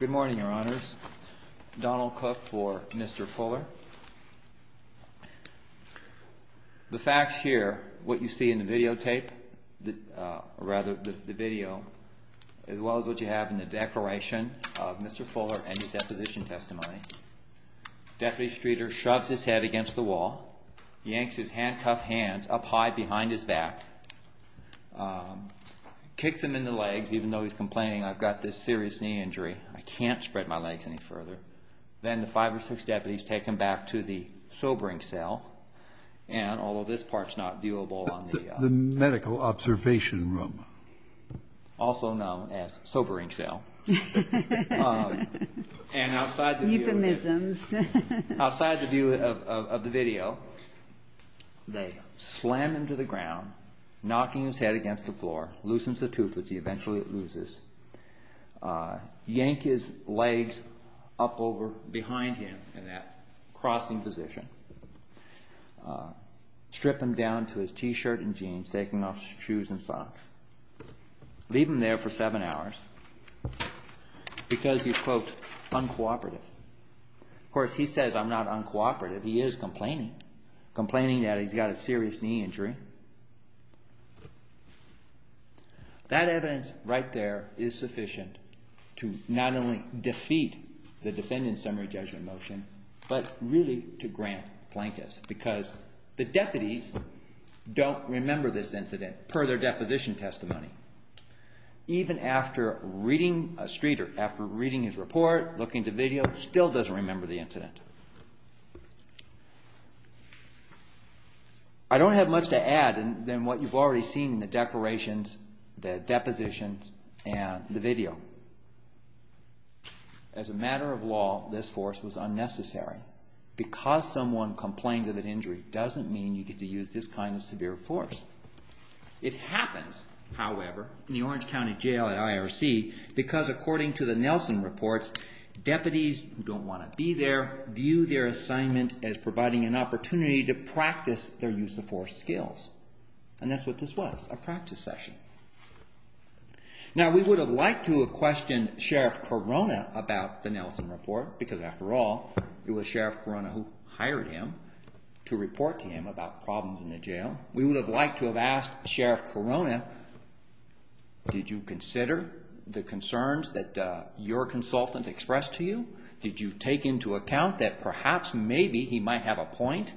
Good morning, Your Honors. Donald Cook for Mr. Fuller. The facts here, what you see in the videotape, or rather the video, as well as what you have in the declaration of Mr. Fuller and his deposition testimony, Deputy Streeter shoves his head against the wall, yanks his handcuffed hands up high behind his back, kicks him in the legs, even though he's complaining, I've got this serious knee injury, I can't spread my legs any further. Then the five or six deputies take him back to the sobering cell, and although this part's not viewable on the... The medical observation room. Also known as sobering cell. Euphemisms. Outside the view of the video, they slam him to the ground, knocking his head against the floor, loosens the tooth, which eventually it loses. Yank his legs up over behind him in that crossing position. Strip him down to his t-shirt and jeans, taking off his shoes and socks. Leave him there for seven hours because he's, quote, uncooperative. Of course, he says I'm not uncooperative, he is complaining. Complaining that he's got a serious knee injury. That evidence right there is sufficient to not only defeat the defendant's summary judgment motion, but really to grant plaintiffs. Because the deputies don't remember this incident, per their deposition testimony. Even after reading a streeter, after reading his report, looking at the video, still doesn't remember the incident. I don't have much to add than what you've already seen in the declarations, the depositions, and the video. As a matter of law, this force was unnecessary. Because someone complained of an injury doesn't mean you get to use this kind of severe force. It happens, however, in the Orange County Jail at IRC because according to the Nelson reports, deputies don't want to be there, view their assignment as providing an opportunity to practice their use of force skills. And that's what this was, a practice session. Now we would have liked to have questioned Sheriff Corona about the Nelson report. Because after all, it was Sheriff Corona who hired him to report to him about problems in the jail. We would have liked to have asked Sheriff Corona, did you consider the concerns that your consultant expressed to you? Did you take into account that perhaps, maybe, he might have a point?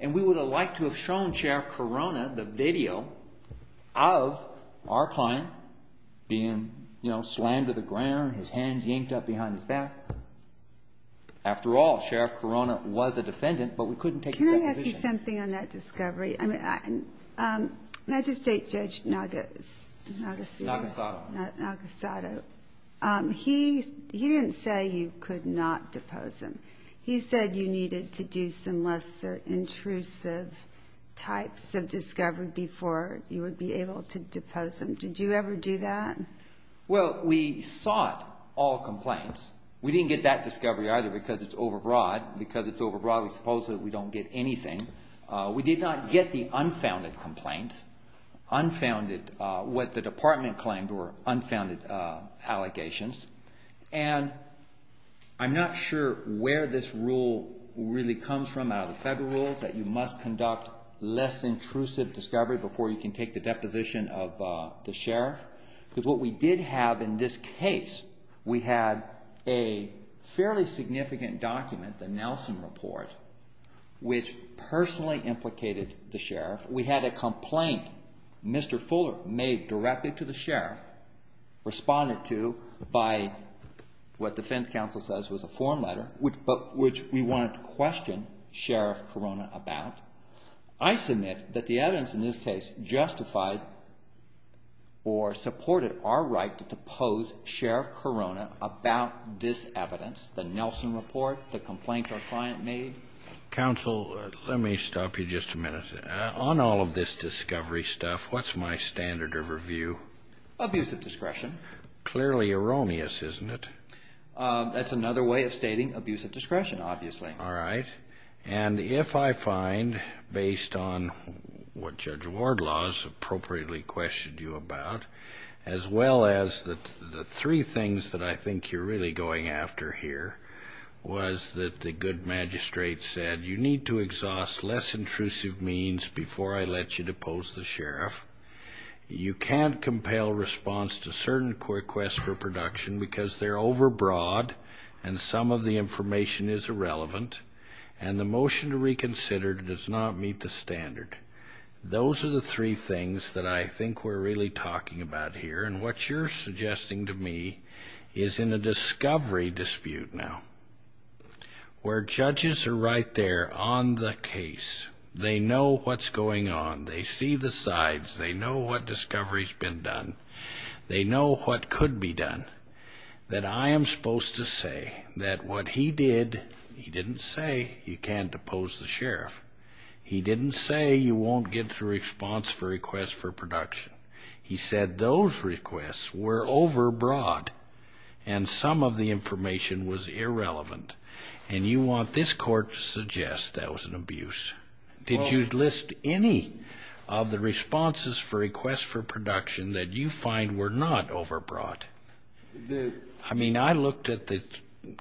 And we would have liked to have shown Sheriff Corona the video of our client being, you know, slammed to the ground, his hands yanked up behind his back. After all, Sheriff Corona was a defendant, but we couldn't take a deposition. Can I ask you something on that discovery? I mean, Magistrate Judge Nagasato, he didn't say you could not depose him. He said you needed to do some lesser intrusive types of discovery before you would be able to depose him. Did you ever do that? Well, we sought all complaints. We didn't get that discovery either because it's overbroad. Because it's overbroad, we suppose that we don't get anything. We did not get the unfounded complaints, unfounded, what the department claimed were unfounded allegations. And I'm not sure where this rule really comes from out of the federal rules that you must conduct less intrusive discovery before you can take the deposition of the sheriff. Because what we did have in this case, we had a fairly significant document, the Nelson Report, which personally implicated the sheriff. We had a complaint Mr. Fuller made directly to the sheriff, responded to by what defense counsel says was a form letter, but which we wanted to question Sheriff Corona about. I submit that the evidence in this case justified or supported our right to depose Sheriff Corona about this evidence, the Nelson Report, the complaint our client made. Counsel, let me stop you just a minute. On all of this discovery stuff, what's my standard of review? Abusive discretion. Clearly erroneous, isn't it? That's another way of stating abusive discretion, obviously. All right. And if I find, based on what Judge Wardlaw has appropriately questioned you about, as well as the three things that I think you're really going after here, was that the good magistrate said you need to exhaust less intrusive means before I let you depose the sheriff. You can't compel response to certain requests for production because they're overbroad and some of the information is irrelevant. And the motion to reconsider does not meet the standard. Those are the three things that I think we're really talking about here. And what you're suggesting to me is in a discovery dispute now, where judges are right there on the case. They know what's going on. They see the sides. They know what discovery has been done. They know what could be done. That I am supposed to say that what he did, he didn't say you can't depose the sheriff. He didn't say you won't get the response for requests for production. He said those requests were overbroad and some of the information was irrelevant. And you want this court to suggest that was an abuse. Did you list any of the responses for requests for production that you find were not overbroad? I mean, I looked at the ñ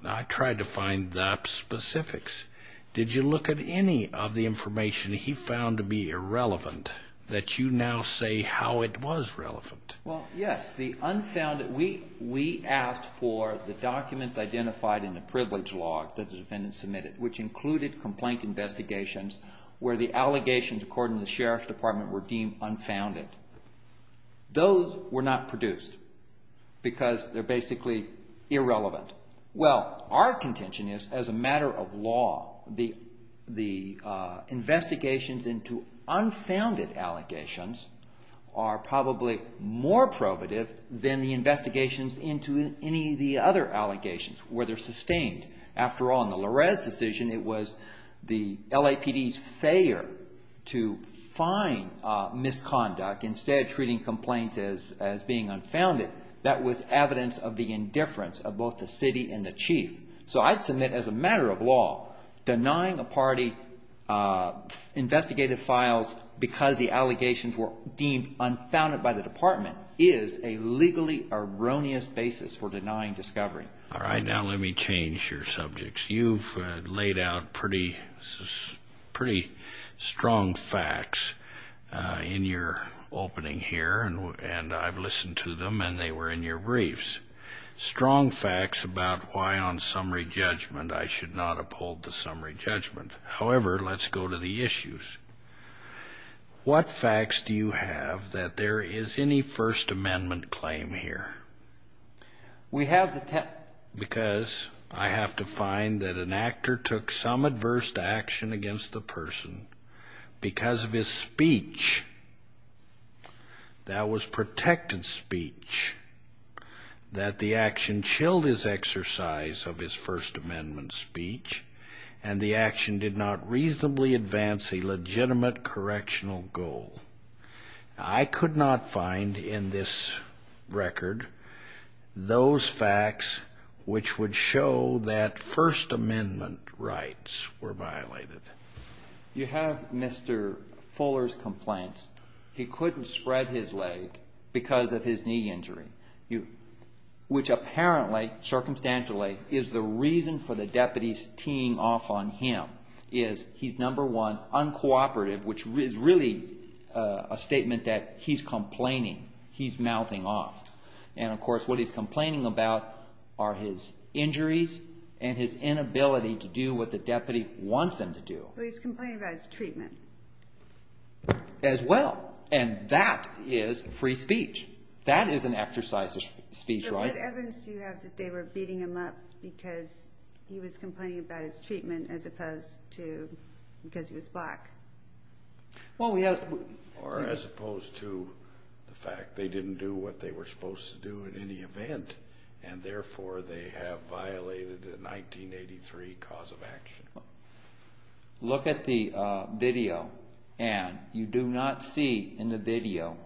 I tried to find the specifics. Did you look at any of the information he found to be irrelevant that you now say how it was relevant? Well, yes. The unfounded ñ we asked for the documents identified in the privilege log that the defendant submitted, which included complaint investigations where the allegations according to the sheriff's department were deemed unfounded. Those were not produced because they're basically irrelevant. Well, our contention is as a matter of law, the investigations into unfounded allegations are probably more probative than the investigations into any of the other allegations where they're sustained. After all, in the Larez decision, it was the LAPD's failure to find misconduct instead of treating complaints as being unfounded. That was evidence of the indifference of both the city and the chief. So I'd submit as a matter of law, denying a party investigative files because the allegations were deemed unfounded by the department is a legally erroneous basis for denying discovery. All right. Now let me change your subjects. You've laid out pretty strong facts in your opening here, and I've listened to them, and they were in your briefs, strong facts about why on summary judgment I should not uphold the summary judgment. However, let's go to the issues. What facts do you have that there is any First Amendment claim here? Because I have to find that an actor took some adverse action against the person because of his speech. That was protected speech, that the action chilled his exercise of his First Amendment speech, and the action did not reasonably advance a legitimate correctional goal. I could not find in this record those facts which would show that First Amendment rights were violated. You have Mr. Fuller's complaints. He couldn't spread his leg because of his knee injury, which apparently, circumstantially, is the reason for the deputy's teeing off on him is he's, number one, uncooperative, which is really a statement that he's complaining. He's mouthing off. And, of course, what he's complaining about are his injuries and his inability to do what the deputy wants him to do. But he's complaining about his treatment. As well. And that is free speech. That is an exercise of speech rights. What evidence do you have that they were beating him up because he was complaining about his treatment as opposed to because he was black? Or as opposed to the fact they didn't do what they were supposed to do in any event, and therefore they have violated a 1983 cause of action. Look at the video, Ann. You do not see in the video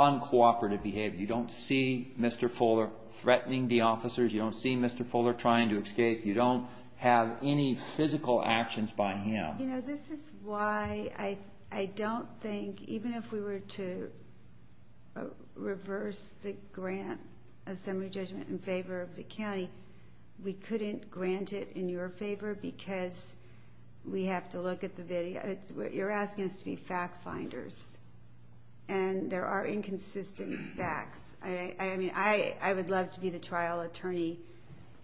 uncooperative behavior. You don't see Mr. Fuller threatening the officers. You don't see Mr. Fuller trying to escape. You don't have any physical actions by him. You know, this is why I don't think, even if we were to reverse the grant of summary judgment in favor of the county, we couldn't grant it in your favor because we have to look at the video. You're asking us to be fact finders. And there are inconsistent facts. I mean, I would love to be the trial attorney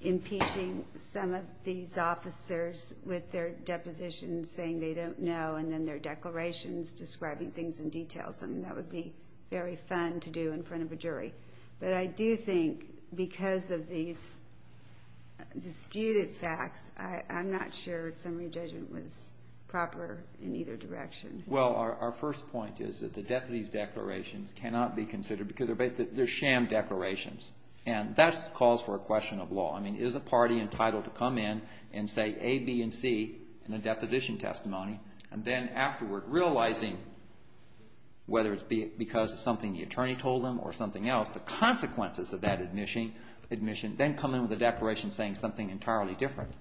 impeaching some of these officers with their depositions saying they don't know and then their declarations describing things in detail, something that would be very fun to do in front of a jury. But I do think because of these disputed facts, I'm not sure summary judgment was proper in either direction. Well, our first point is that the deputies' declarations cannot be considered because they're sham declarations. And that calls for a question of law. I mean, is a party entitled to come in and say A, B, and C in a deposition testimony, and then afterward realizing whether it's because of something the attorney told them or something else, the consequences of that admission, then come in with a declaration saying something entirely different.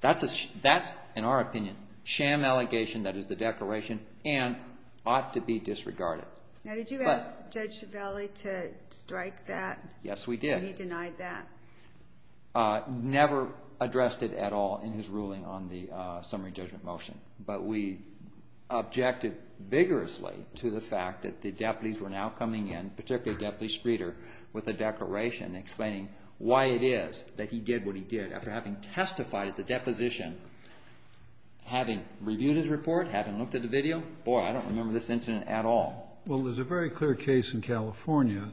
That's, in our opinion, sham allegation. That is the declaration and ought to be disregarded. Now, did you ask Judge Ciavelli to strike that? Yes, we did. And he denied that? Never addressed it at all in his ruling on the summary judgment motion. But we objected vigorously to the fact that the deputies were now coming in, particularly Deputy Streeter, with a declaration explaining why it is that he did what he did. After having testified at the deposition, having reviewed his report, having looked at the video, boy, I don't remember this incident at all. Well, there's a very clear case in California,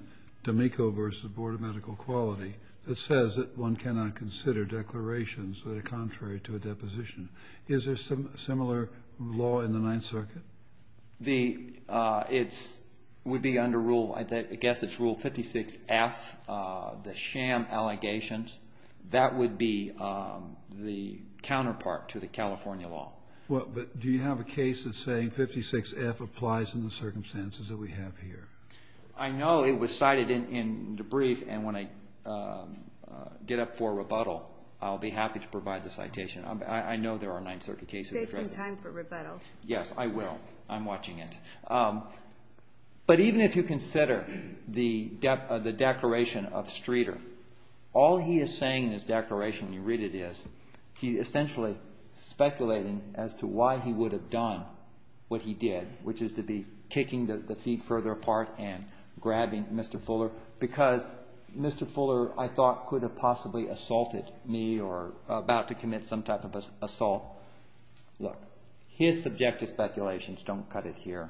D'Amico v. Board of Medical Quality, that says that one cannot consider declarations that are contrary to a deposition. Is there some similar law in the Ninth Circuit? It would be under rule, I guess it's rule 56F, the sham allegations. That would be the counterpart to the California law. Well, but do you have a case that's saying 56F applies in the circumstances that we have here? I know it was cited in the brief, and when I get up for rebuttal, I'll be happy to provide the citation. I know there are Ninth Circuit cases. Save some time for rebuttal. Yes, I will. I'm watching it. But even if you consider the declaration of Streeter, all he is saying in his declaration when you read it is, he's essentially speculating as to why he would have done what he did, which is to be kicking the feet further apart and grabbing Mr. Fuller, because Mr. Fuller, I thought, could have possibly assaulted me or about to commit some type of assault. Look, his subjective speculations don't cut it here.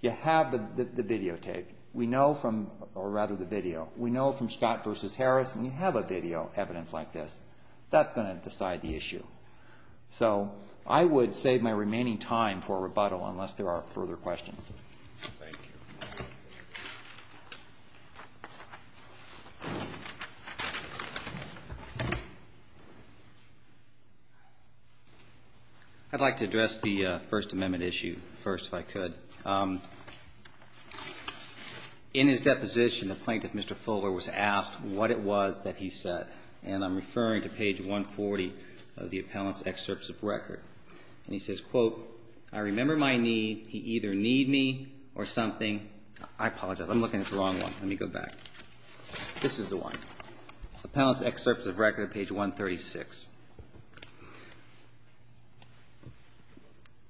You have the videotape. We know from, or rather the video, we know from Scott v. Harris, when you have a video evidence like this, that's going to decide the issue. So I would save my remaining time for rebuttal unless there are further questions. Thank you. I'd like to address the First Amendment issue first, if I could. In his deposition, the plaintiff, Mr. Fuller, was asked what it was that he said, and I'm referring to page 140 of the appellant's excerpts of record. And he says, quote, I remember my need. He either need me or something. I apologize. I'm looking at the wrong one. Let me go back. This is the one. Appellant's excerpts of record, page 136.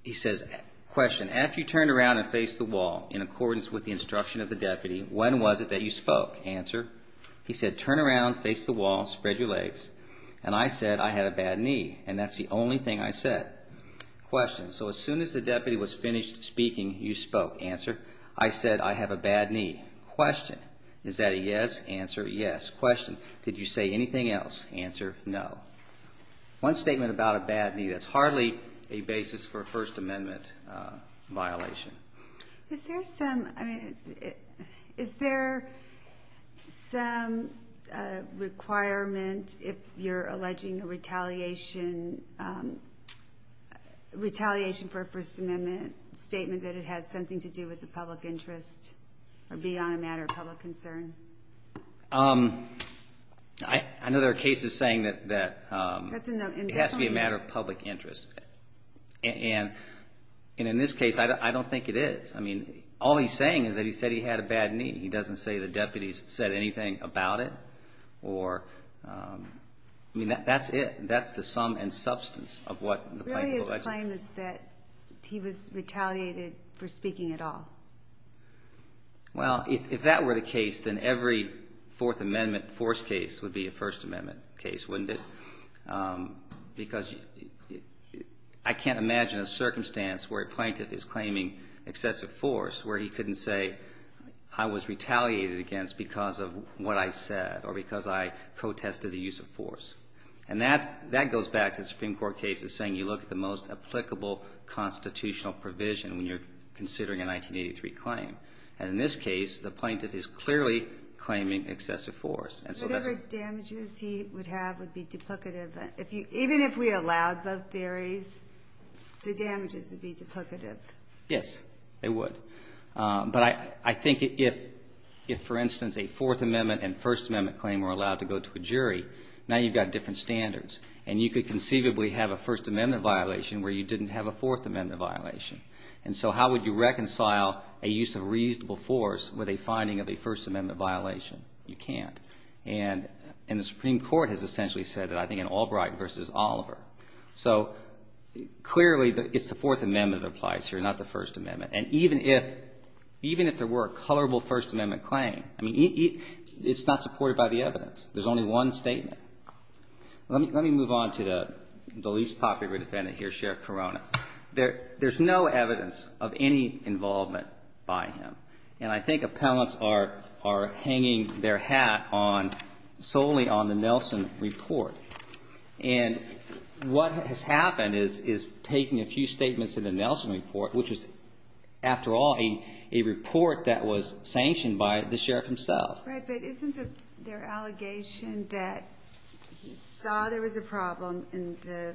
He says, question, after you turned around and faced the wall, in accordance with the instruction of the deputy, when was it that you spoke? Answer, he said, turn around, face the wall, spread your legs. And I said, I had a bad knee. And that's the only thing I said. Question, so as soon as the deputy was finished speaking, you spoke. Answer, I said, I have a bad knee. Question, is that a yes? Answer, yes. Question, did you say anything else? Answer, no. One statement about a bad knee, that's hardly a basis for a First Amendment violation. Is there some requirement if you're alleging a retaliation for a First Amendment statement that it has something to do with the public interest or be on a matter of public concern? I know there are cases saying that it has to be a matter of public interest. And in this case, I don't think it is. I mean, all he's saying is that he said he had a bad knee. He doesn't say the deputy said anything about it. I mean, that's it. That's the sum and substance of what the plaintiff alleges. Really his claim is that he was retaliated for speaking at all. Well, if that were the case, then every Fourth Amendment force case would be a First Amendment case, wouldn't it? Because I can't imagine a circumstance where a plaintiff is claiming excessive force where he couldn't say I was retaliated against because of what I said or because I protested the use of force. And that goes back to the Supreme Court cases saying you look at the most applicable constitutional provision when you're considering a 1983 claim. And in this case, the plaintiff is clearly claiming excessive force. Whatever damages he would have would be duplicative. Even if we allowed both theories, the damages would be duplicative. Yes, they would. But I think if, for instance, a Fourth Amendment and First Amendment claim were allowed to go to a jury, now you've got different standards. And you could conceivably have a First Amendment violation where you didn't have a Fourth Amendment violation. And so how would you reconcile a use of reasonable force with a finding of a First Amendment violation? You can't. And the Supreme Court has essentially said that, I think, in Albright v. Oliver. So clearly it's the Fourth Amendment that applies here, not the First Amendment. And even if there were a colorable First Amendment claim, I mean, it's not supported by the evidence. There's only one statement. Let me move on to the least popular defendant here, Sheriff Corona. There's no evidence of any involvement by him. And I think appellants are hanging their hat solely on the Nelson report. And what has happened is taking a few statements in the Nelson report, which is, after all, a report that was sanctioned by the sheriff himself. Right, but isn't there allegation that he saw there was a problem in the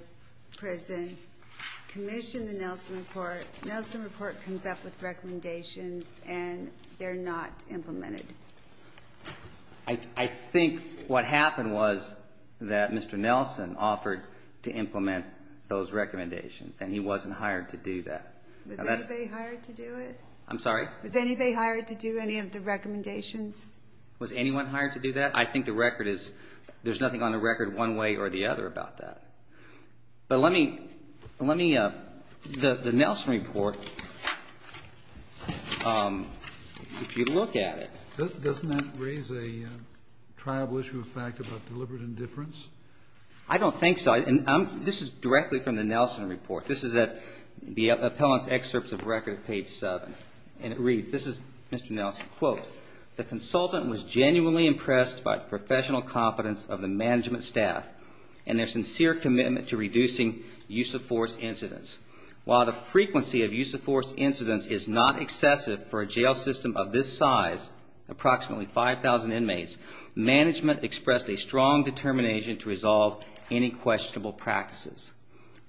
prison, commissioned the Nelson report. Nelson report comes up with recommendations, and they're not implemented. I think what happened was that Mr. Nelson offered to implement those recommendations, and he wasn't hired to do that. Was anybody hired to do it? I'm sorry? Was anybody hired to do any of the recommendations? Was anyone hired to do that? I think the record is, there's nothing on the record one way or the other about that. But let me, let me, the Nelson report, if you look at it. Doesn't that raise a triable issue of fact about deliberate indifference? I don't think so. And this is directly from the Nelson report. This is at the appellant's excerpts of record at page seven. And it reads, this is Mr. Nelson, quote, the consultant was genuinely impressed by the professional competence of the management staff and their sincere commitment to reducing use of force incidents. While the frequency of use of force incidents is not excessive for a jail system of this size, approximately 5,000 inmates, management expressed a strong determination to resolve any questionable practices.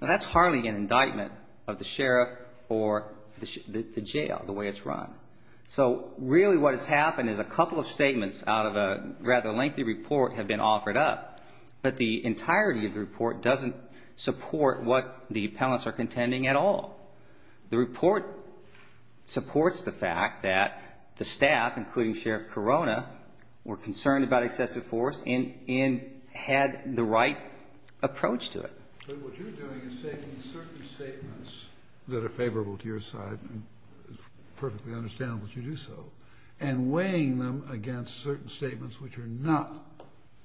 Now that's hardly an indictment of the sheriff or the jail, the way it's run. So really what has happened is a couple of statements out of a rather lengthy report have been offered up. But the entirety of the report doesn't support what the appellants are contending at all. The report supports the fact that the staff, including Sheriff Corona, were concerned about excessive force and had the right approach to it. Kennedy. But what you're doing is taking certain statements that are favorable to your side, and it's perfectly understandable that you do so, and weighing them against certain statements which are not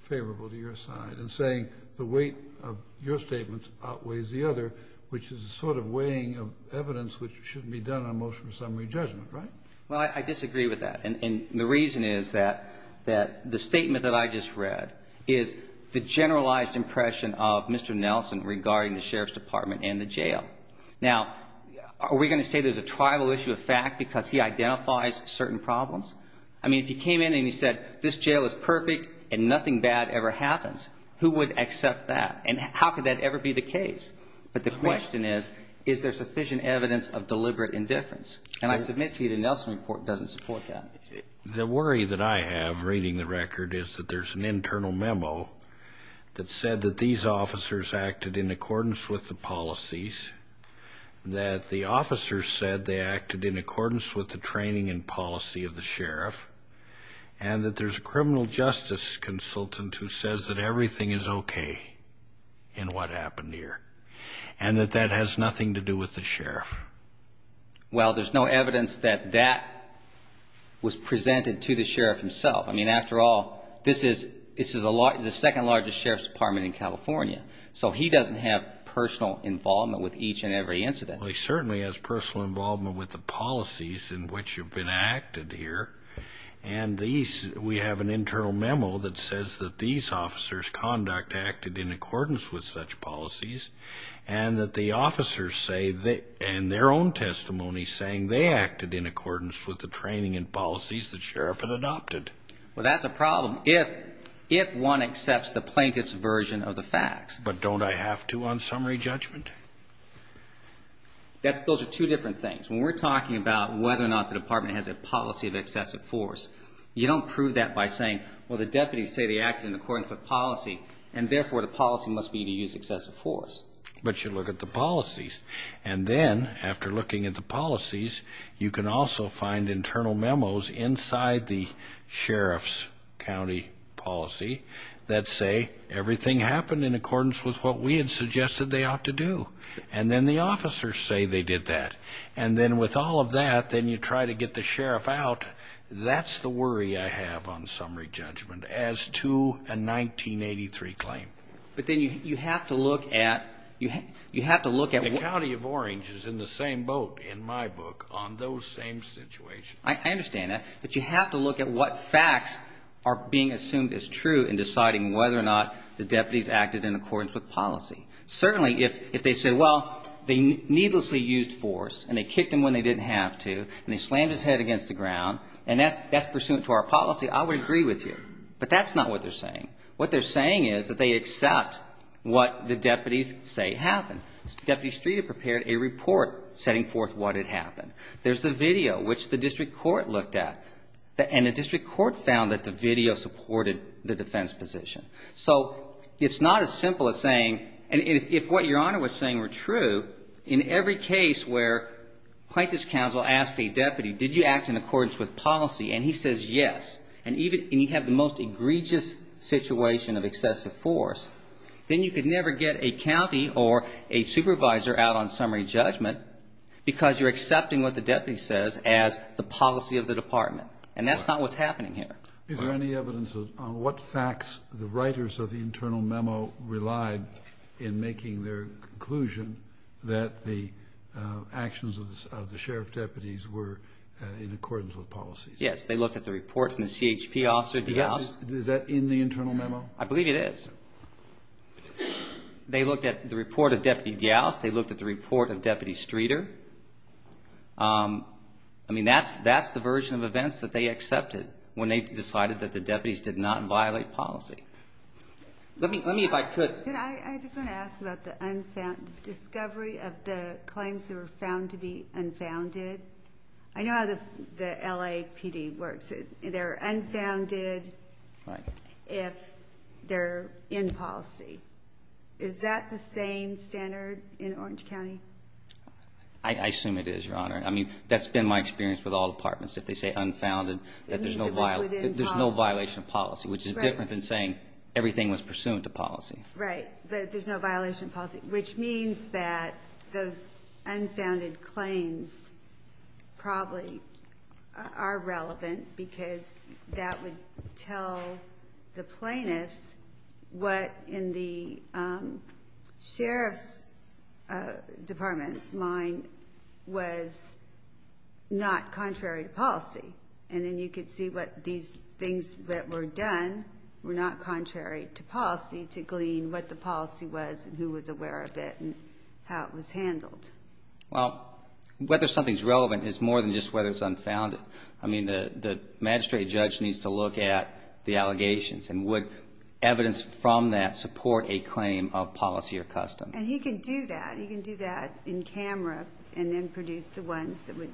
favorable to your side and saying the weight of your statements outweighs the other, which is a sort of weighing of evidence which shouldn't be done on a motion of summary judgment, right? Well, I disagree with that. And the reason is that the statement that I just read is the generalized impression of Mr. Nelson regarding the sheriff's department and the jail. Now, are we going to say there's a tribal issue of fact because he identifies certain problems? I mean, if he came in and he said this jail is perfect and nothing bad ever happens, who would accept that? And how could that ever be the case? But the question is, is there sufficient evidence of deliberate indifference? And I submit to you the Nelson report doesn't support that. The worry that I have reading the record is that there's an internal memo that said that these officers acted in accordance with the policies, that the officers said they acted in accordance with the training and policy of the sheriff, and that there's a criminal justice consultant who says that everything is okay in what happened here, and that that has nothing to do with the sheriff. Well, there's no evidence that that was presented to the sheriff himself. I mean, after all, this is the second largest sheriff's department in California, so he doesn't have personal involvement with each and every incident. He certainly has personal involvement with the policies in which you've been acted here, and we have an internal memo that says that these officers' conduct acted in accordance with such policies, and that the officers say in their own testimony, saying they acted in accordance with the training and policies the sheriff had adopted. Well, that's a problem if one accepts the plaintiff's version of the facts. But don't I have to on summary judgment? Those are two different things. When we're talking about whether or not the department has a policy of excessive force, you don't prove that by saying, well, the deputies say they acted in accordance with policy, and therefore the policy must be to use excessive force. But you look at the policies, and then after looking at the policies, you can also find internal memos inside the sheriff's county policy that say everything happened in accordance with what we had suggested they ought to do, and then the officers say they did that. And then with all of that, then you try to get the sheriff out. That's the worry I have on summary judgment as to a 1983 claim. But then you have to look at the county of Orange is in the same boat, in my book, on those same situations. I understand that, that you have to look at what facts are being assumed is true in deciding whether or not the deputies acted in accordance with policy. Certainly if they say, well, they needlessly used force, and they kicked him when they didn't have to, and they slammed his head against the ground, and that's pursuant to our policy, I would agree with you. But that's not what they're saying. What they're saying is that they accept what the deputies say happened. Deputy Streeter prepared a report setting forth what had happened. There's the video, which the district court looked at, and the district court found that the video supported the defense position. So it's not as simple as saying, and if what Your Honor was saying were true, in every case where plaintiff's counsel asks a deputy, did you act in accordance with policy, and he says yes, and you have the most egregious situation of excessive force, then you could never get a county or a supervisor out on summary judgment because you're accepting what the deputy says as the policy of the department. And that's not what's happening here. Is there any evidence on what facts the writers of the internal memo relied in making their conclusion that the actions of the sheriff deputies were in accordance with policy? Yes. They looked at the report from the CHP officer, Dialos. Is that in the internal memo? I believe it is. They looked at the report of Deputy Dialos. They looked at the report of Deputy Streeter. I mean, that's the version of events that they accepted when they decided that the deputies did not violate policy. Let me, if I could. I just want to ask about the discovery of the claims that were found to be unfounded. I know how the LAPD works. They're unfounded if they're in policy. Is that the same standard in Orange County? I assume it is, Your Honor. I mean, that's been my experience with all departments. If they say unfounded, there's no violation of policy, which is different than saying everything was pursuant to policy. Right, but there's no violation of policy, which means that those unfounded claims probably are relevant because that would tell the plaintiffs what in the sheriff's department's mind was not contrary to policy. And then you could see what these things that were done were not contrary to policy to glean what the policy was and who was aware of it and how it was handled. Well, whether something's relevant is more than just whether it's unfounded. I mean, the magistrate judge needs to look at the allegations and would evidence from that support a claim of policy or custom. And he can do that. He can do that in camera and then produce the ones that would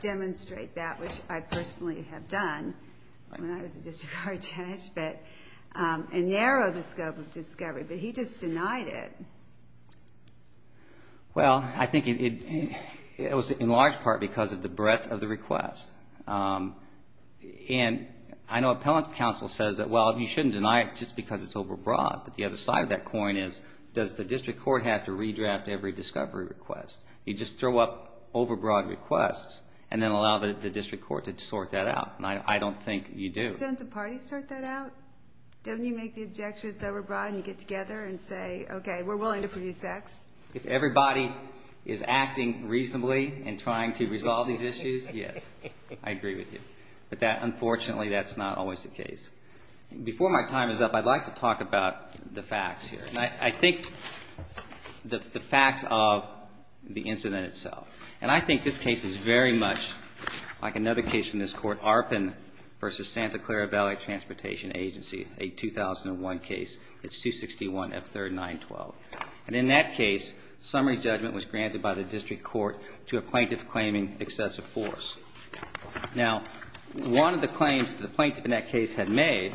demonstrate that, which I personally have done when I was a district court judge, and narrow the scope of discovery. But he just denied it. Well, I think it was in large part because of the breadth of the request. And I know appellant counsel says that, well, you shouldn't deny it just because it's overbroad. But the other side of that coin is, does the district court have to redraft every discovery request? You just throw up overbroad requests and then allow the district court to sort that out. And I don't think you do. Don't the parties sort that out? Don't you make the objections overbroad and get together and say, okay, we're willing to produce X? If everybody is acting reasonably and trying to resolve these issues, yes. I agree with you. But unfortunately, that's not always the case. Before my time is up, I'd like to talk about the facts here. And I think the facts of the incident itself. And I think this case is very much like another case in this Court, Arpin v. Santa Clara Valley Transportation Agency, a 2001 case. It's 261F3-912. And in that case, summary judgment was granted by the district court to a plaintiff claiming excessive force. Now, one of the claims that the plaintiff in that case had made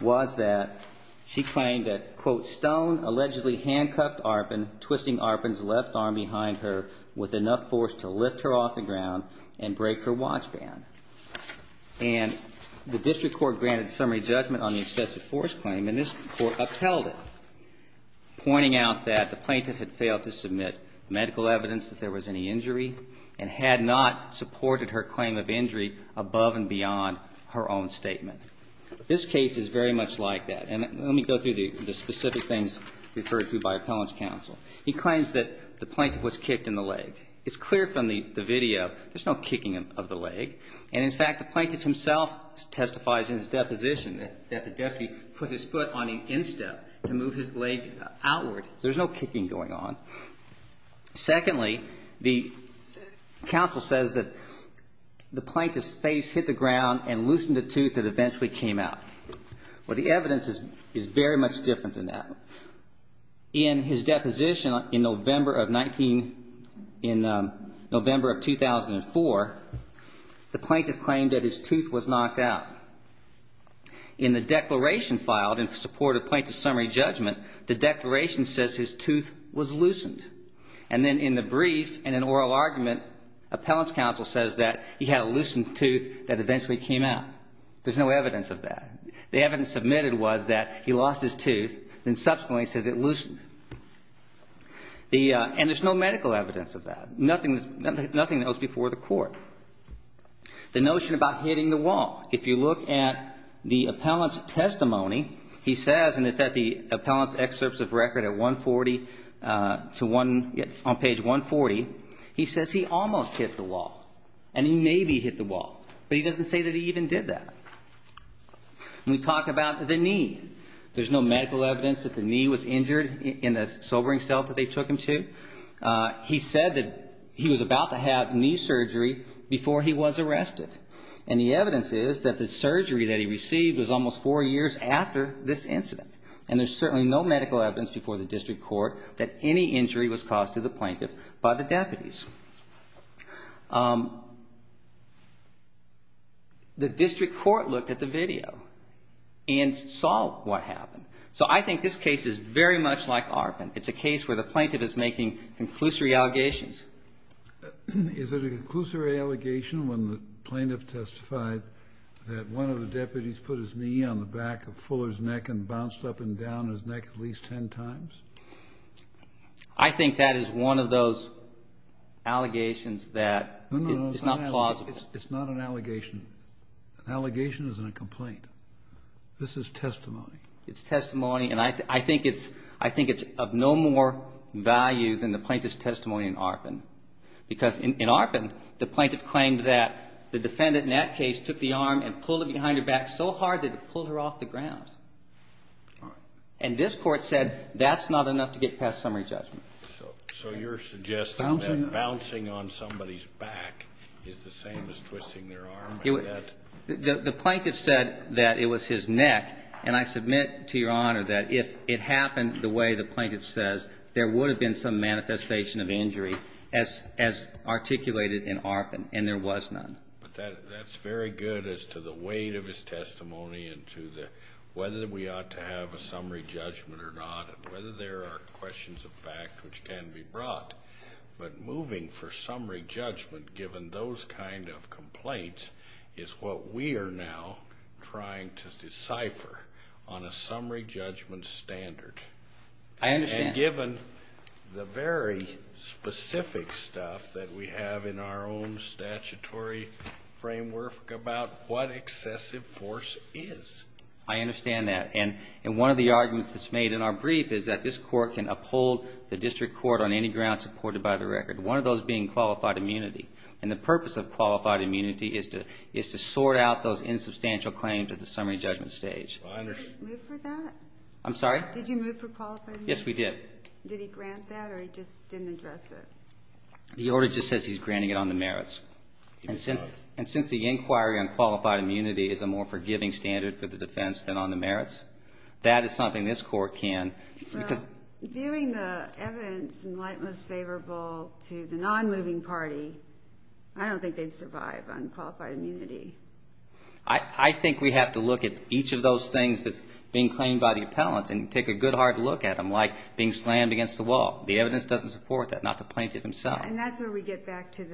was that she claimed that, quote, Stone allegedly handcuffed Arpin, twisting Arpin's left arm behind her, with enough force to lift her off the ground and break her watch band. And the district court granted summary judgment on the excessive force claim, and this Court upheld it, pointing out that the plaintiff had failed to submit medical evidence that there was any injury and had not supported her claim of injury above and beyond her own statement. This case is very much like that. And let me go through the specific things referred to by appellant's counsel. He claims that the plaintiff was kicked in the leg. It's clear from the video there's no kicking of the leg. And, in fact, the plaintiff himself testifies in his deposition that the deputy put his foot on an instep to move his leg outward. There's no kicking going on. Secondly, the counsel says that the plaintiff's face hit the ground and loosened a tooth that eventually came out. Well, the evidence is very much different than that. In his deposition in November of 2004, the plaintiff claimed that his tooth was knocked out. In the declaration filed in support of plaintiff's summary judgment, the declaration says his tooth was loosened. And then in the brief, in an oral argument, appellant's counsel says that he had a loosened tooth that eventually came out. There's no evidence of that. The evidence submitted was that he lost his tooth, and subsequently says it loosened. And there's no medical evidence of that. Nothing that was before the court. The notion about hitting the wall. If you look at the appellant's testimony, he says, and it's at the appellant's excerpts of record at 140, on page 140, he says he almost hit the wall. And he maybe hit the wall. But he doesn't say that he even did that. We talk about the knee. There's no medical evidence that the knee was injured in the sobering cell that they took him to. He said that he was about to have knee surgery before he was arrested. And the evidence is that the surgery that he received was almost four years after this incident. And there's certainly no medical evidence before the district court that any injury was caused to the plaintiff by the deputies. The district court looked at the video and saw what happened. So I think this case is very much like Arpen. It's a case where the plaintiff is making conclusive allegations. Is it a conclusive allegation when the plaintiff testified that one of the deputies put his knee on the back of Fuller's neck and bounced up and down his neck at least ten times? I think that is one of those allegations that is not plausible. It's not an allegation. An allegation isn't a complaint. This is testimony. It's testimony. And I think it's of no more value than the plaintiff's testimony in Arpen. Because in Arpen, the plaintiff claimed that the defendant in that case took the arm and pulled it behind her back so hard that it pulled her off the ground. And this Court said that's not enough to get past summary judgment. So you're suggesting that bouncing on somebody's back is the same as twisting their arm? The plaintiff said that it was his neck. And I submit to Your Honor that if it happened the way the plaintiff says, there would have been some manifestation of injury as articulated in Arpen, and there was none. But that's very good as to the weight of his testimony and to whether we ought to have a summary judgment or not and whether there are questions of fact which can be brought. But moving for summary judgment, given those kind of complaints, is what we are now trying to decipher on a summary judgment standard. I understand. And given the very specific stuff that we have in our own statutory framework about what excessive force is. I understand that. And one of the arguments that's made in our brief is that this Court can uphold the district court on any ground supported by the record, one of those being qualified immunity. And the purpose of qualified immunity is to sort out those insubstantial claims at the summary judgment stage. Did you move for that? I'm sorry? Did you move for qualified immunity? Yes, we did. Did he grant that or he just didn't address it? The order just says he's granting it on the merits. And since the inquiry on qualified immunity is a more forgiving standard for the defense than on the merits, that is something this Court can. Viewing the evidence in light most favorable to the non-moving party, I don't think they'd survive on qualified immunity. I think we have to look at each of those things that's being claimed by the appellant and take a good hard look at them, like being slammed against the wall. The evidence doesn't support that, not the plaintiff himself. And that's where we get back to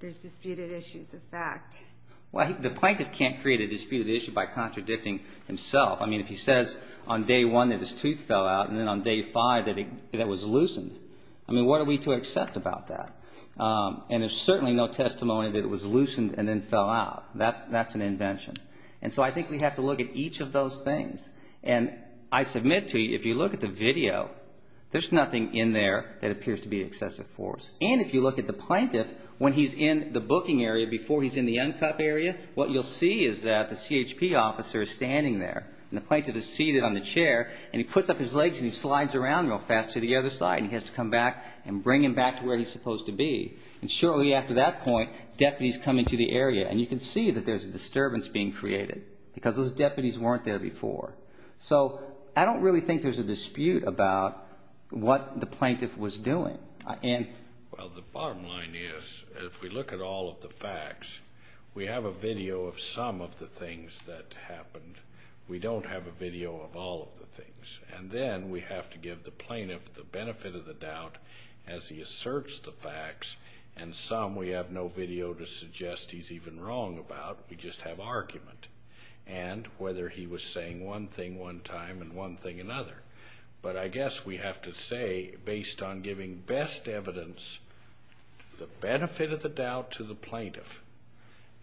there's disputed issues of fact. Well, the plaintiff can't create a disputed issue by contradicting himself. I mean, if he says on day one that his tooth fell out and then on day five that it was loosened, I mean, what are we to accept about that? And there's certainly no testimony that it was loosened and then fell out. That's an invention. And so I think we have to look at each of those things. And I submit to you if you look at the video, there's nothing in there that appears to be excessive force. And if you look at the plaintiff when he's in the booking area before he's in the uncut area, what you'll see is that the CHP officer is standing there and the plaintiff is seated on the chair and he puts up his legs and he slides around real fast to the other side and he has to come back and bring him back to where he's supposed to be. And shortly after that point, deputies come into the area and you can see that there's a disturbance being created because those deputies weren't there before. So I don't really think there's a dispute about what the plaintiff was doing. Well, the bottom line is if we look at all of the facts, we have a video of some of the things that happened. We don't have a video of all of the things. And then we have to give the plaintiff the benefit of the doubt as he asserts the facts and some we have no video to suggest he's even wrong about. We just have argument. And whether he was saying one thing one time and one thing another. But I guess we have to say, based on giving best evidence, the benefit of the doubt to the plaintiff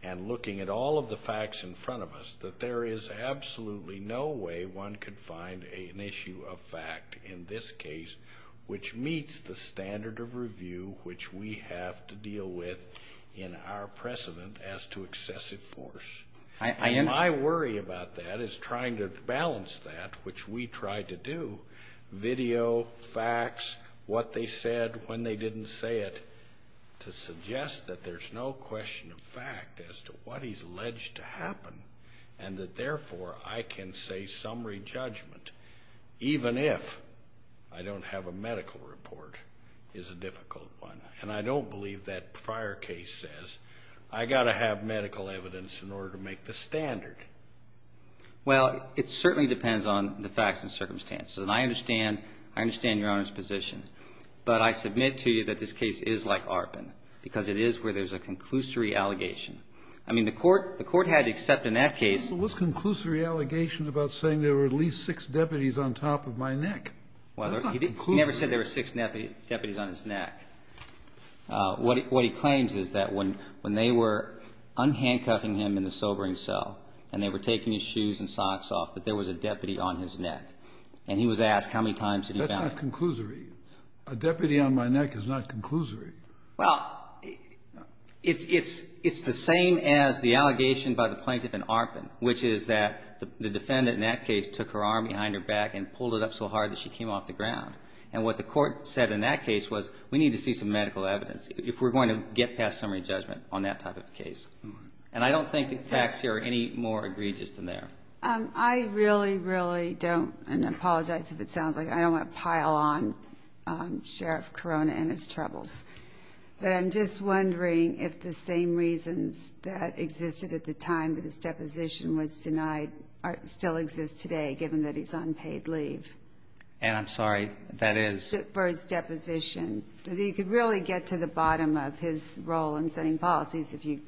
and looking at all of the facts in front of us, that there is absolutely no way one could find an issue of fact in this case which meets the standard of review which we have to deal with in our precedent as to excessive force. My worry about that is trying to balance that, which we try to do, video, facts, what they said, when they didn't say it, to suggest that there's no question of fact as to what he's alleged to happen and that therefore I can say summary judgment even if I don't have a medical report is a difficult one. And I don't believe that prior case says I got to have medical evidence in order to make the standard. Well, it certainly depends on the facts and circumstances. And I understand, I understand Your Honor's position. But I submit to you that this case is like ARPAN because it is where there's a conclusory allegation. I mean, the Court had to accept in that case. But what's conclusory allegation about saying there were at least six deputies on top of my neck? That's not conclusory. Well, he never said there were six deputies on his neck. What he claims is that when they were unhandcuffing him in the sobering cell and they were taking his shoes and socks off, that there was a deputy on his neck. And he was asked how many times had he been on his neck. That's not conclusory. A deputy on my neck is not conclusory. Well, it's the same as the allegation by the plaintiff in ARPAN, which is that the defendant in that case took her arm behind her back and pulled it up so hard that she came off the ground. And what the Court said in that case was we need to see some medical evidence if we're going to get past summary judgment on that type of case. And I don't think the facts here are any more egregious than there. I really, really don't. And I apologize if it sounds like I don't want to pile on Sheriff Corona and his troubles. But I'm just wondering if the same reasons that existed at the time that his deposition was denied still exist today, given that he's on paid leave. And I'm sorry, that is? For his deposition. He could really get to the bottom of his role in setting policies if you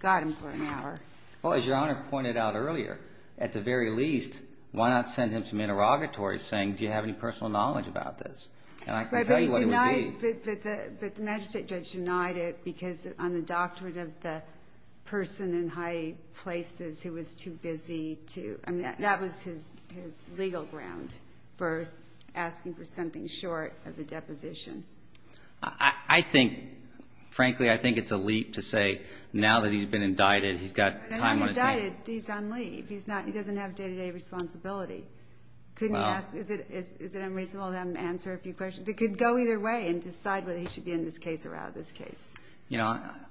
got him for an hour. Well, as Your Honor pointed out earlier, at the very least, why not send him some interrogatories saying, do you have any personal knowledge about this? And I can tell you what it would be. But the magistrate judge denied it because on the doctrine of the person in high places who was too busy to – I mean, that was his legal ground for asking for something short of the deposition. I think – frankly, I think it's a leap to say now that he's been indicted, he's got time on his hands. He's on leave. He doesn't have day-to-day responsibility. Couldn't ask – is it unreasonable to have him answer a few questions? He could go either way and decide whether he should be in this case or out of this case.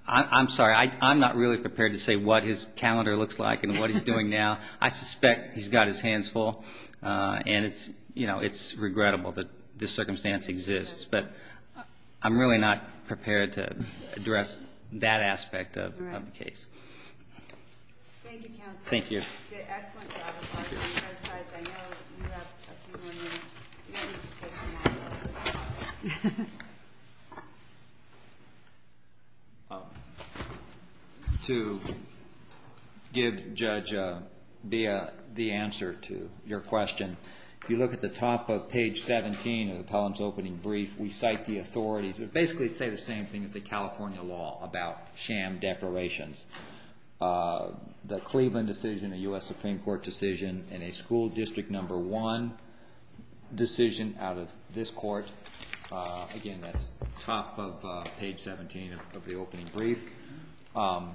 I'm sorry. I'm not really prepared to say what his calendar looks like and what he's doing now. I suspect he's got his hands full, and it's regrettable that this circumstance exists. But I'm really not prepared to address that aspect of the case. Thank you, counsel. Thank you. The excellent job of arguing those sides. I know you have a few more minutes. You don't need to take them. To give Judge Bea the answer to your question, if you look at the top of page 17 of the Pelham's opening brief, we cite the authorities. They basically say the same thing as the California law about sham declarations. The Cleveland decision, a U.S. Supreme Court decision, and a school district number one decision out of this court. Again, that's top of page 17 of the opening brief. I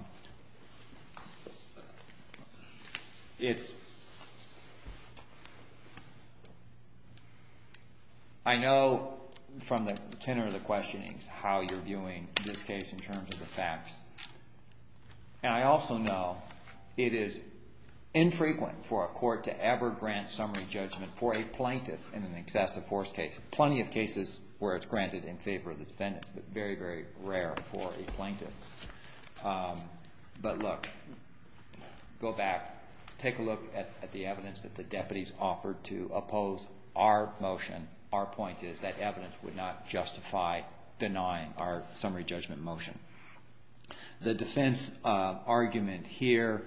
know from the tenor of the questionings how you're viewing this case in terms of the facts. And I also know it is infrequent for a court to ever grant summary judgment for a plaintiff in an excessive force case. Plenty of cases where it's granted in favor of the defendants, but very, very rare for a plaintiff. But look, go back, take a look at the evidence that the deputies offered to oppose our motion. Our point is that evidence would not justify denying our summary judgment motion. The defense argument here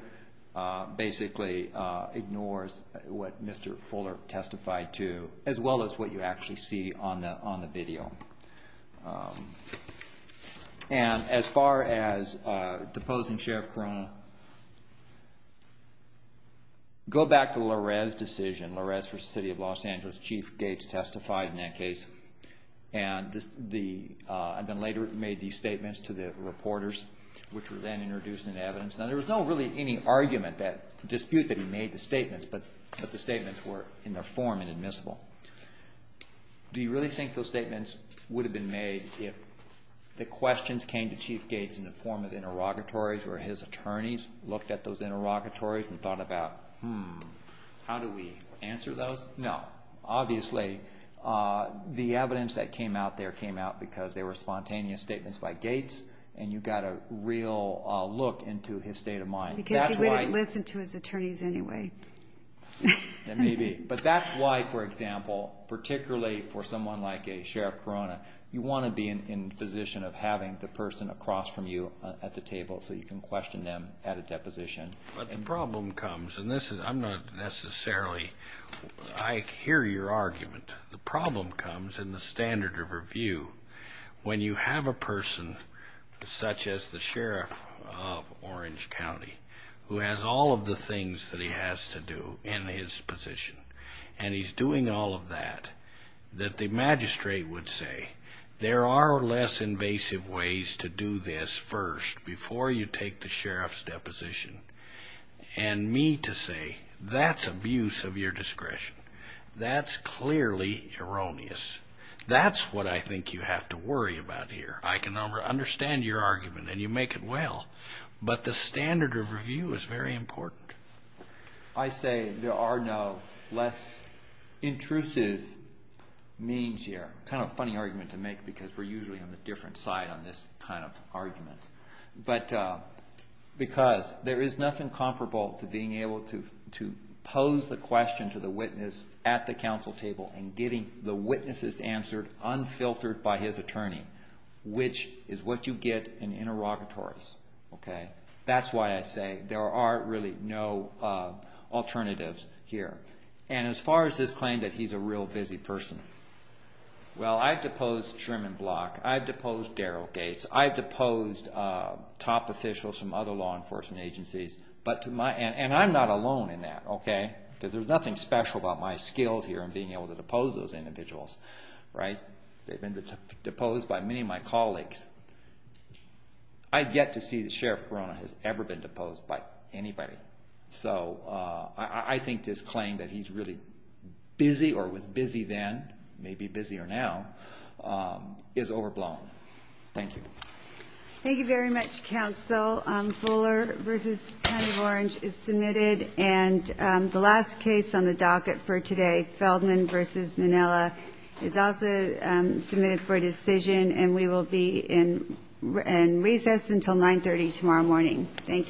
basically ignores what Mr. Fuller testified to, as well as what you actually see on the video. And as far as deposing Sheriff Coronel, go back to Larez's decision. Larez for the city of Los Angeles, Chief Gates testified in that case. And then later made these statements to the reporters, which were then introduced in evidence. Now, there was no really any argument, dispute that he made the statements, but the statements were in their form and admissible. Do you really think those statements would have been made if the questions came to Chief Gates in the form of interrogatories, where his attorneys looked at those interrogatories and thought about, hmm, how do we answer those? No. Obviously, the evidence that came out there came out because they were spontaneous statements by Gates, and you got a real look into his state of mind. Because he wouldn't listen to his attorneys anyway. That may be. But that's why, for example, particularly for someone like a Sheriff Coronel, you want to be in a position of having the person across from you at the table so you can question them at a deposition. But the problem comes, and this is, I'm not necessarily, I hear your argument. The problem comes in the standard of review. When you have a person such as the Sheriff of Orange County, who has all of the things that he has to do in his position, and he's doing all of that, that the magistrate would say, there are less invasive ways to do this first before you take the Sheriff's deposition. And me to say, that's abuse of your discretion. That's clearly erroneous. That's what I think you have to worry about here. I can understand your argument, and you make it well, but the standard of review is very important. I say there are no less intrusive means here. Kind of a funny argument to make because we're usually on the different side on this kind of argument. But because there is nothing comparable to being able to pose the question to the witness at the council table and getting the witnesses answered unfiltered by his attorney, which is what you get in interrogatories. That's why I say there are really no alternatives here. And as far as his claim that he's a real busy person, well, I've deposed Sherman Block. I've deposed Darrell Gates. I've deposed top officials from other law enforcement agencies, and I'm not alone in that. There's nothing special about my skills here in being able to depose those individuals. They've been deposed by many of my colleagues. I've yet to see that Sheriff Corona has ever been deposed by anybody. So I think this claim that he's really busy or was busy then, maybe busier now, is overblown. Thank you. Thank you very much, counsel. Fuller v. County of Orange is submitted. And the last case on the docket for today, Feldman v. Minnella, is also submitted for decision, and we will be in recess until 930 tomorrow morning. Thank you.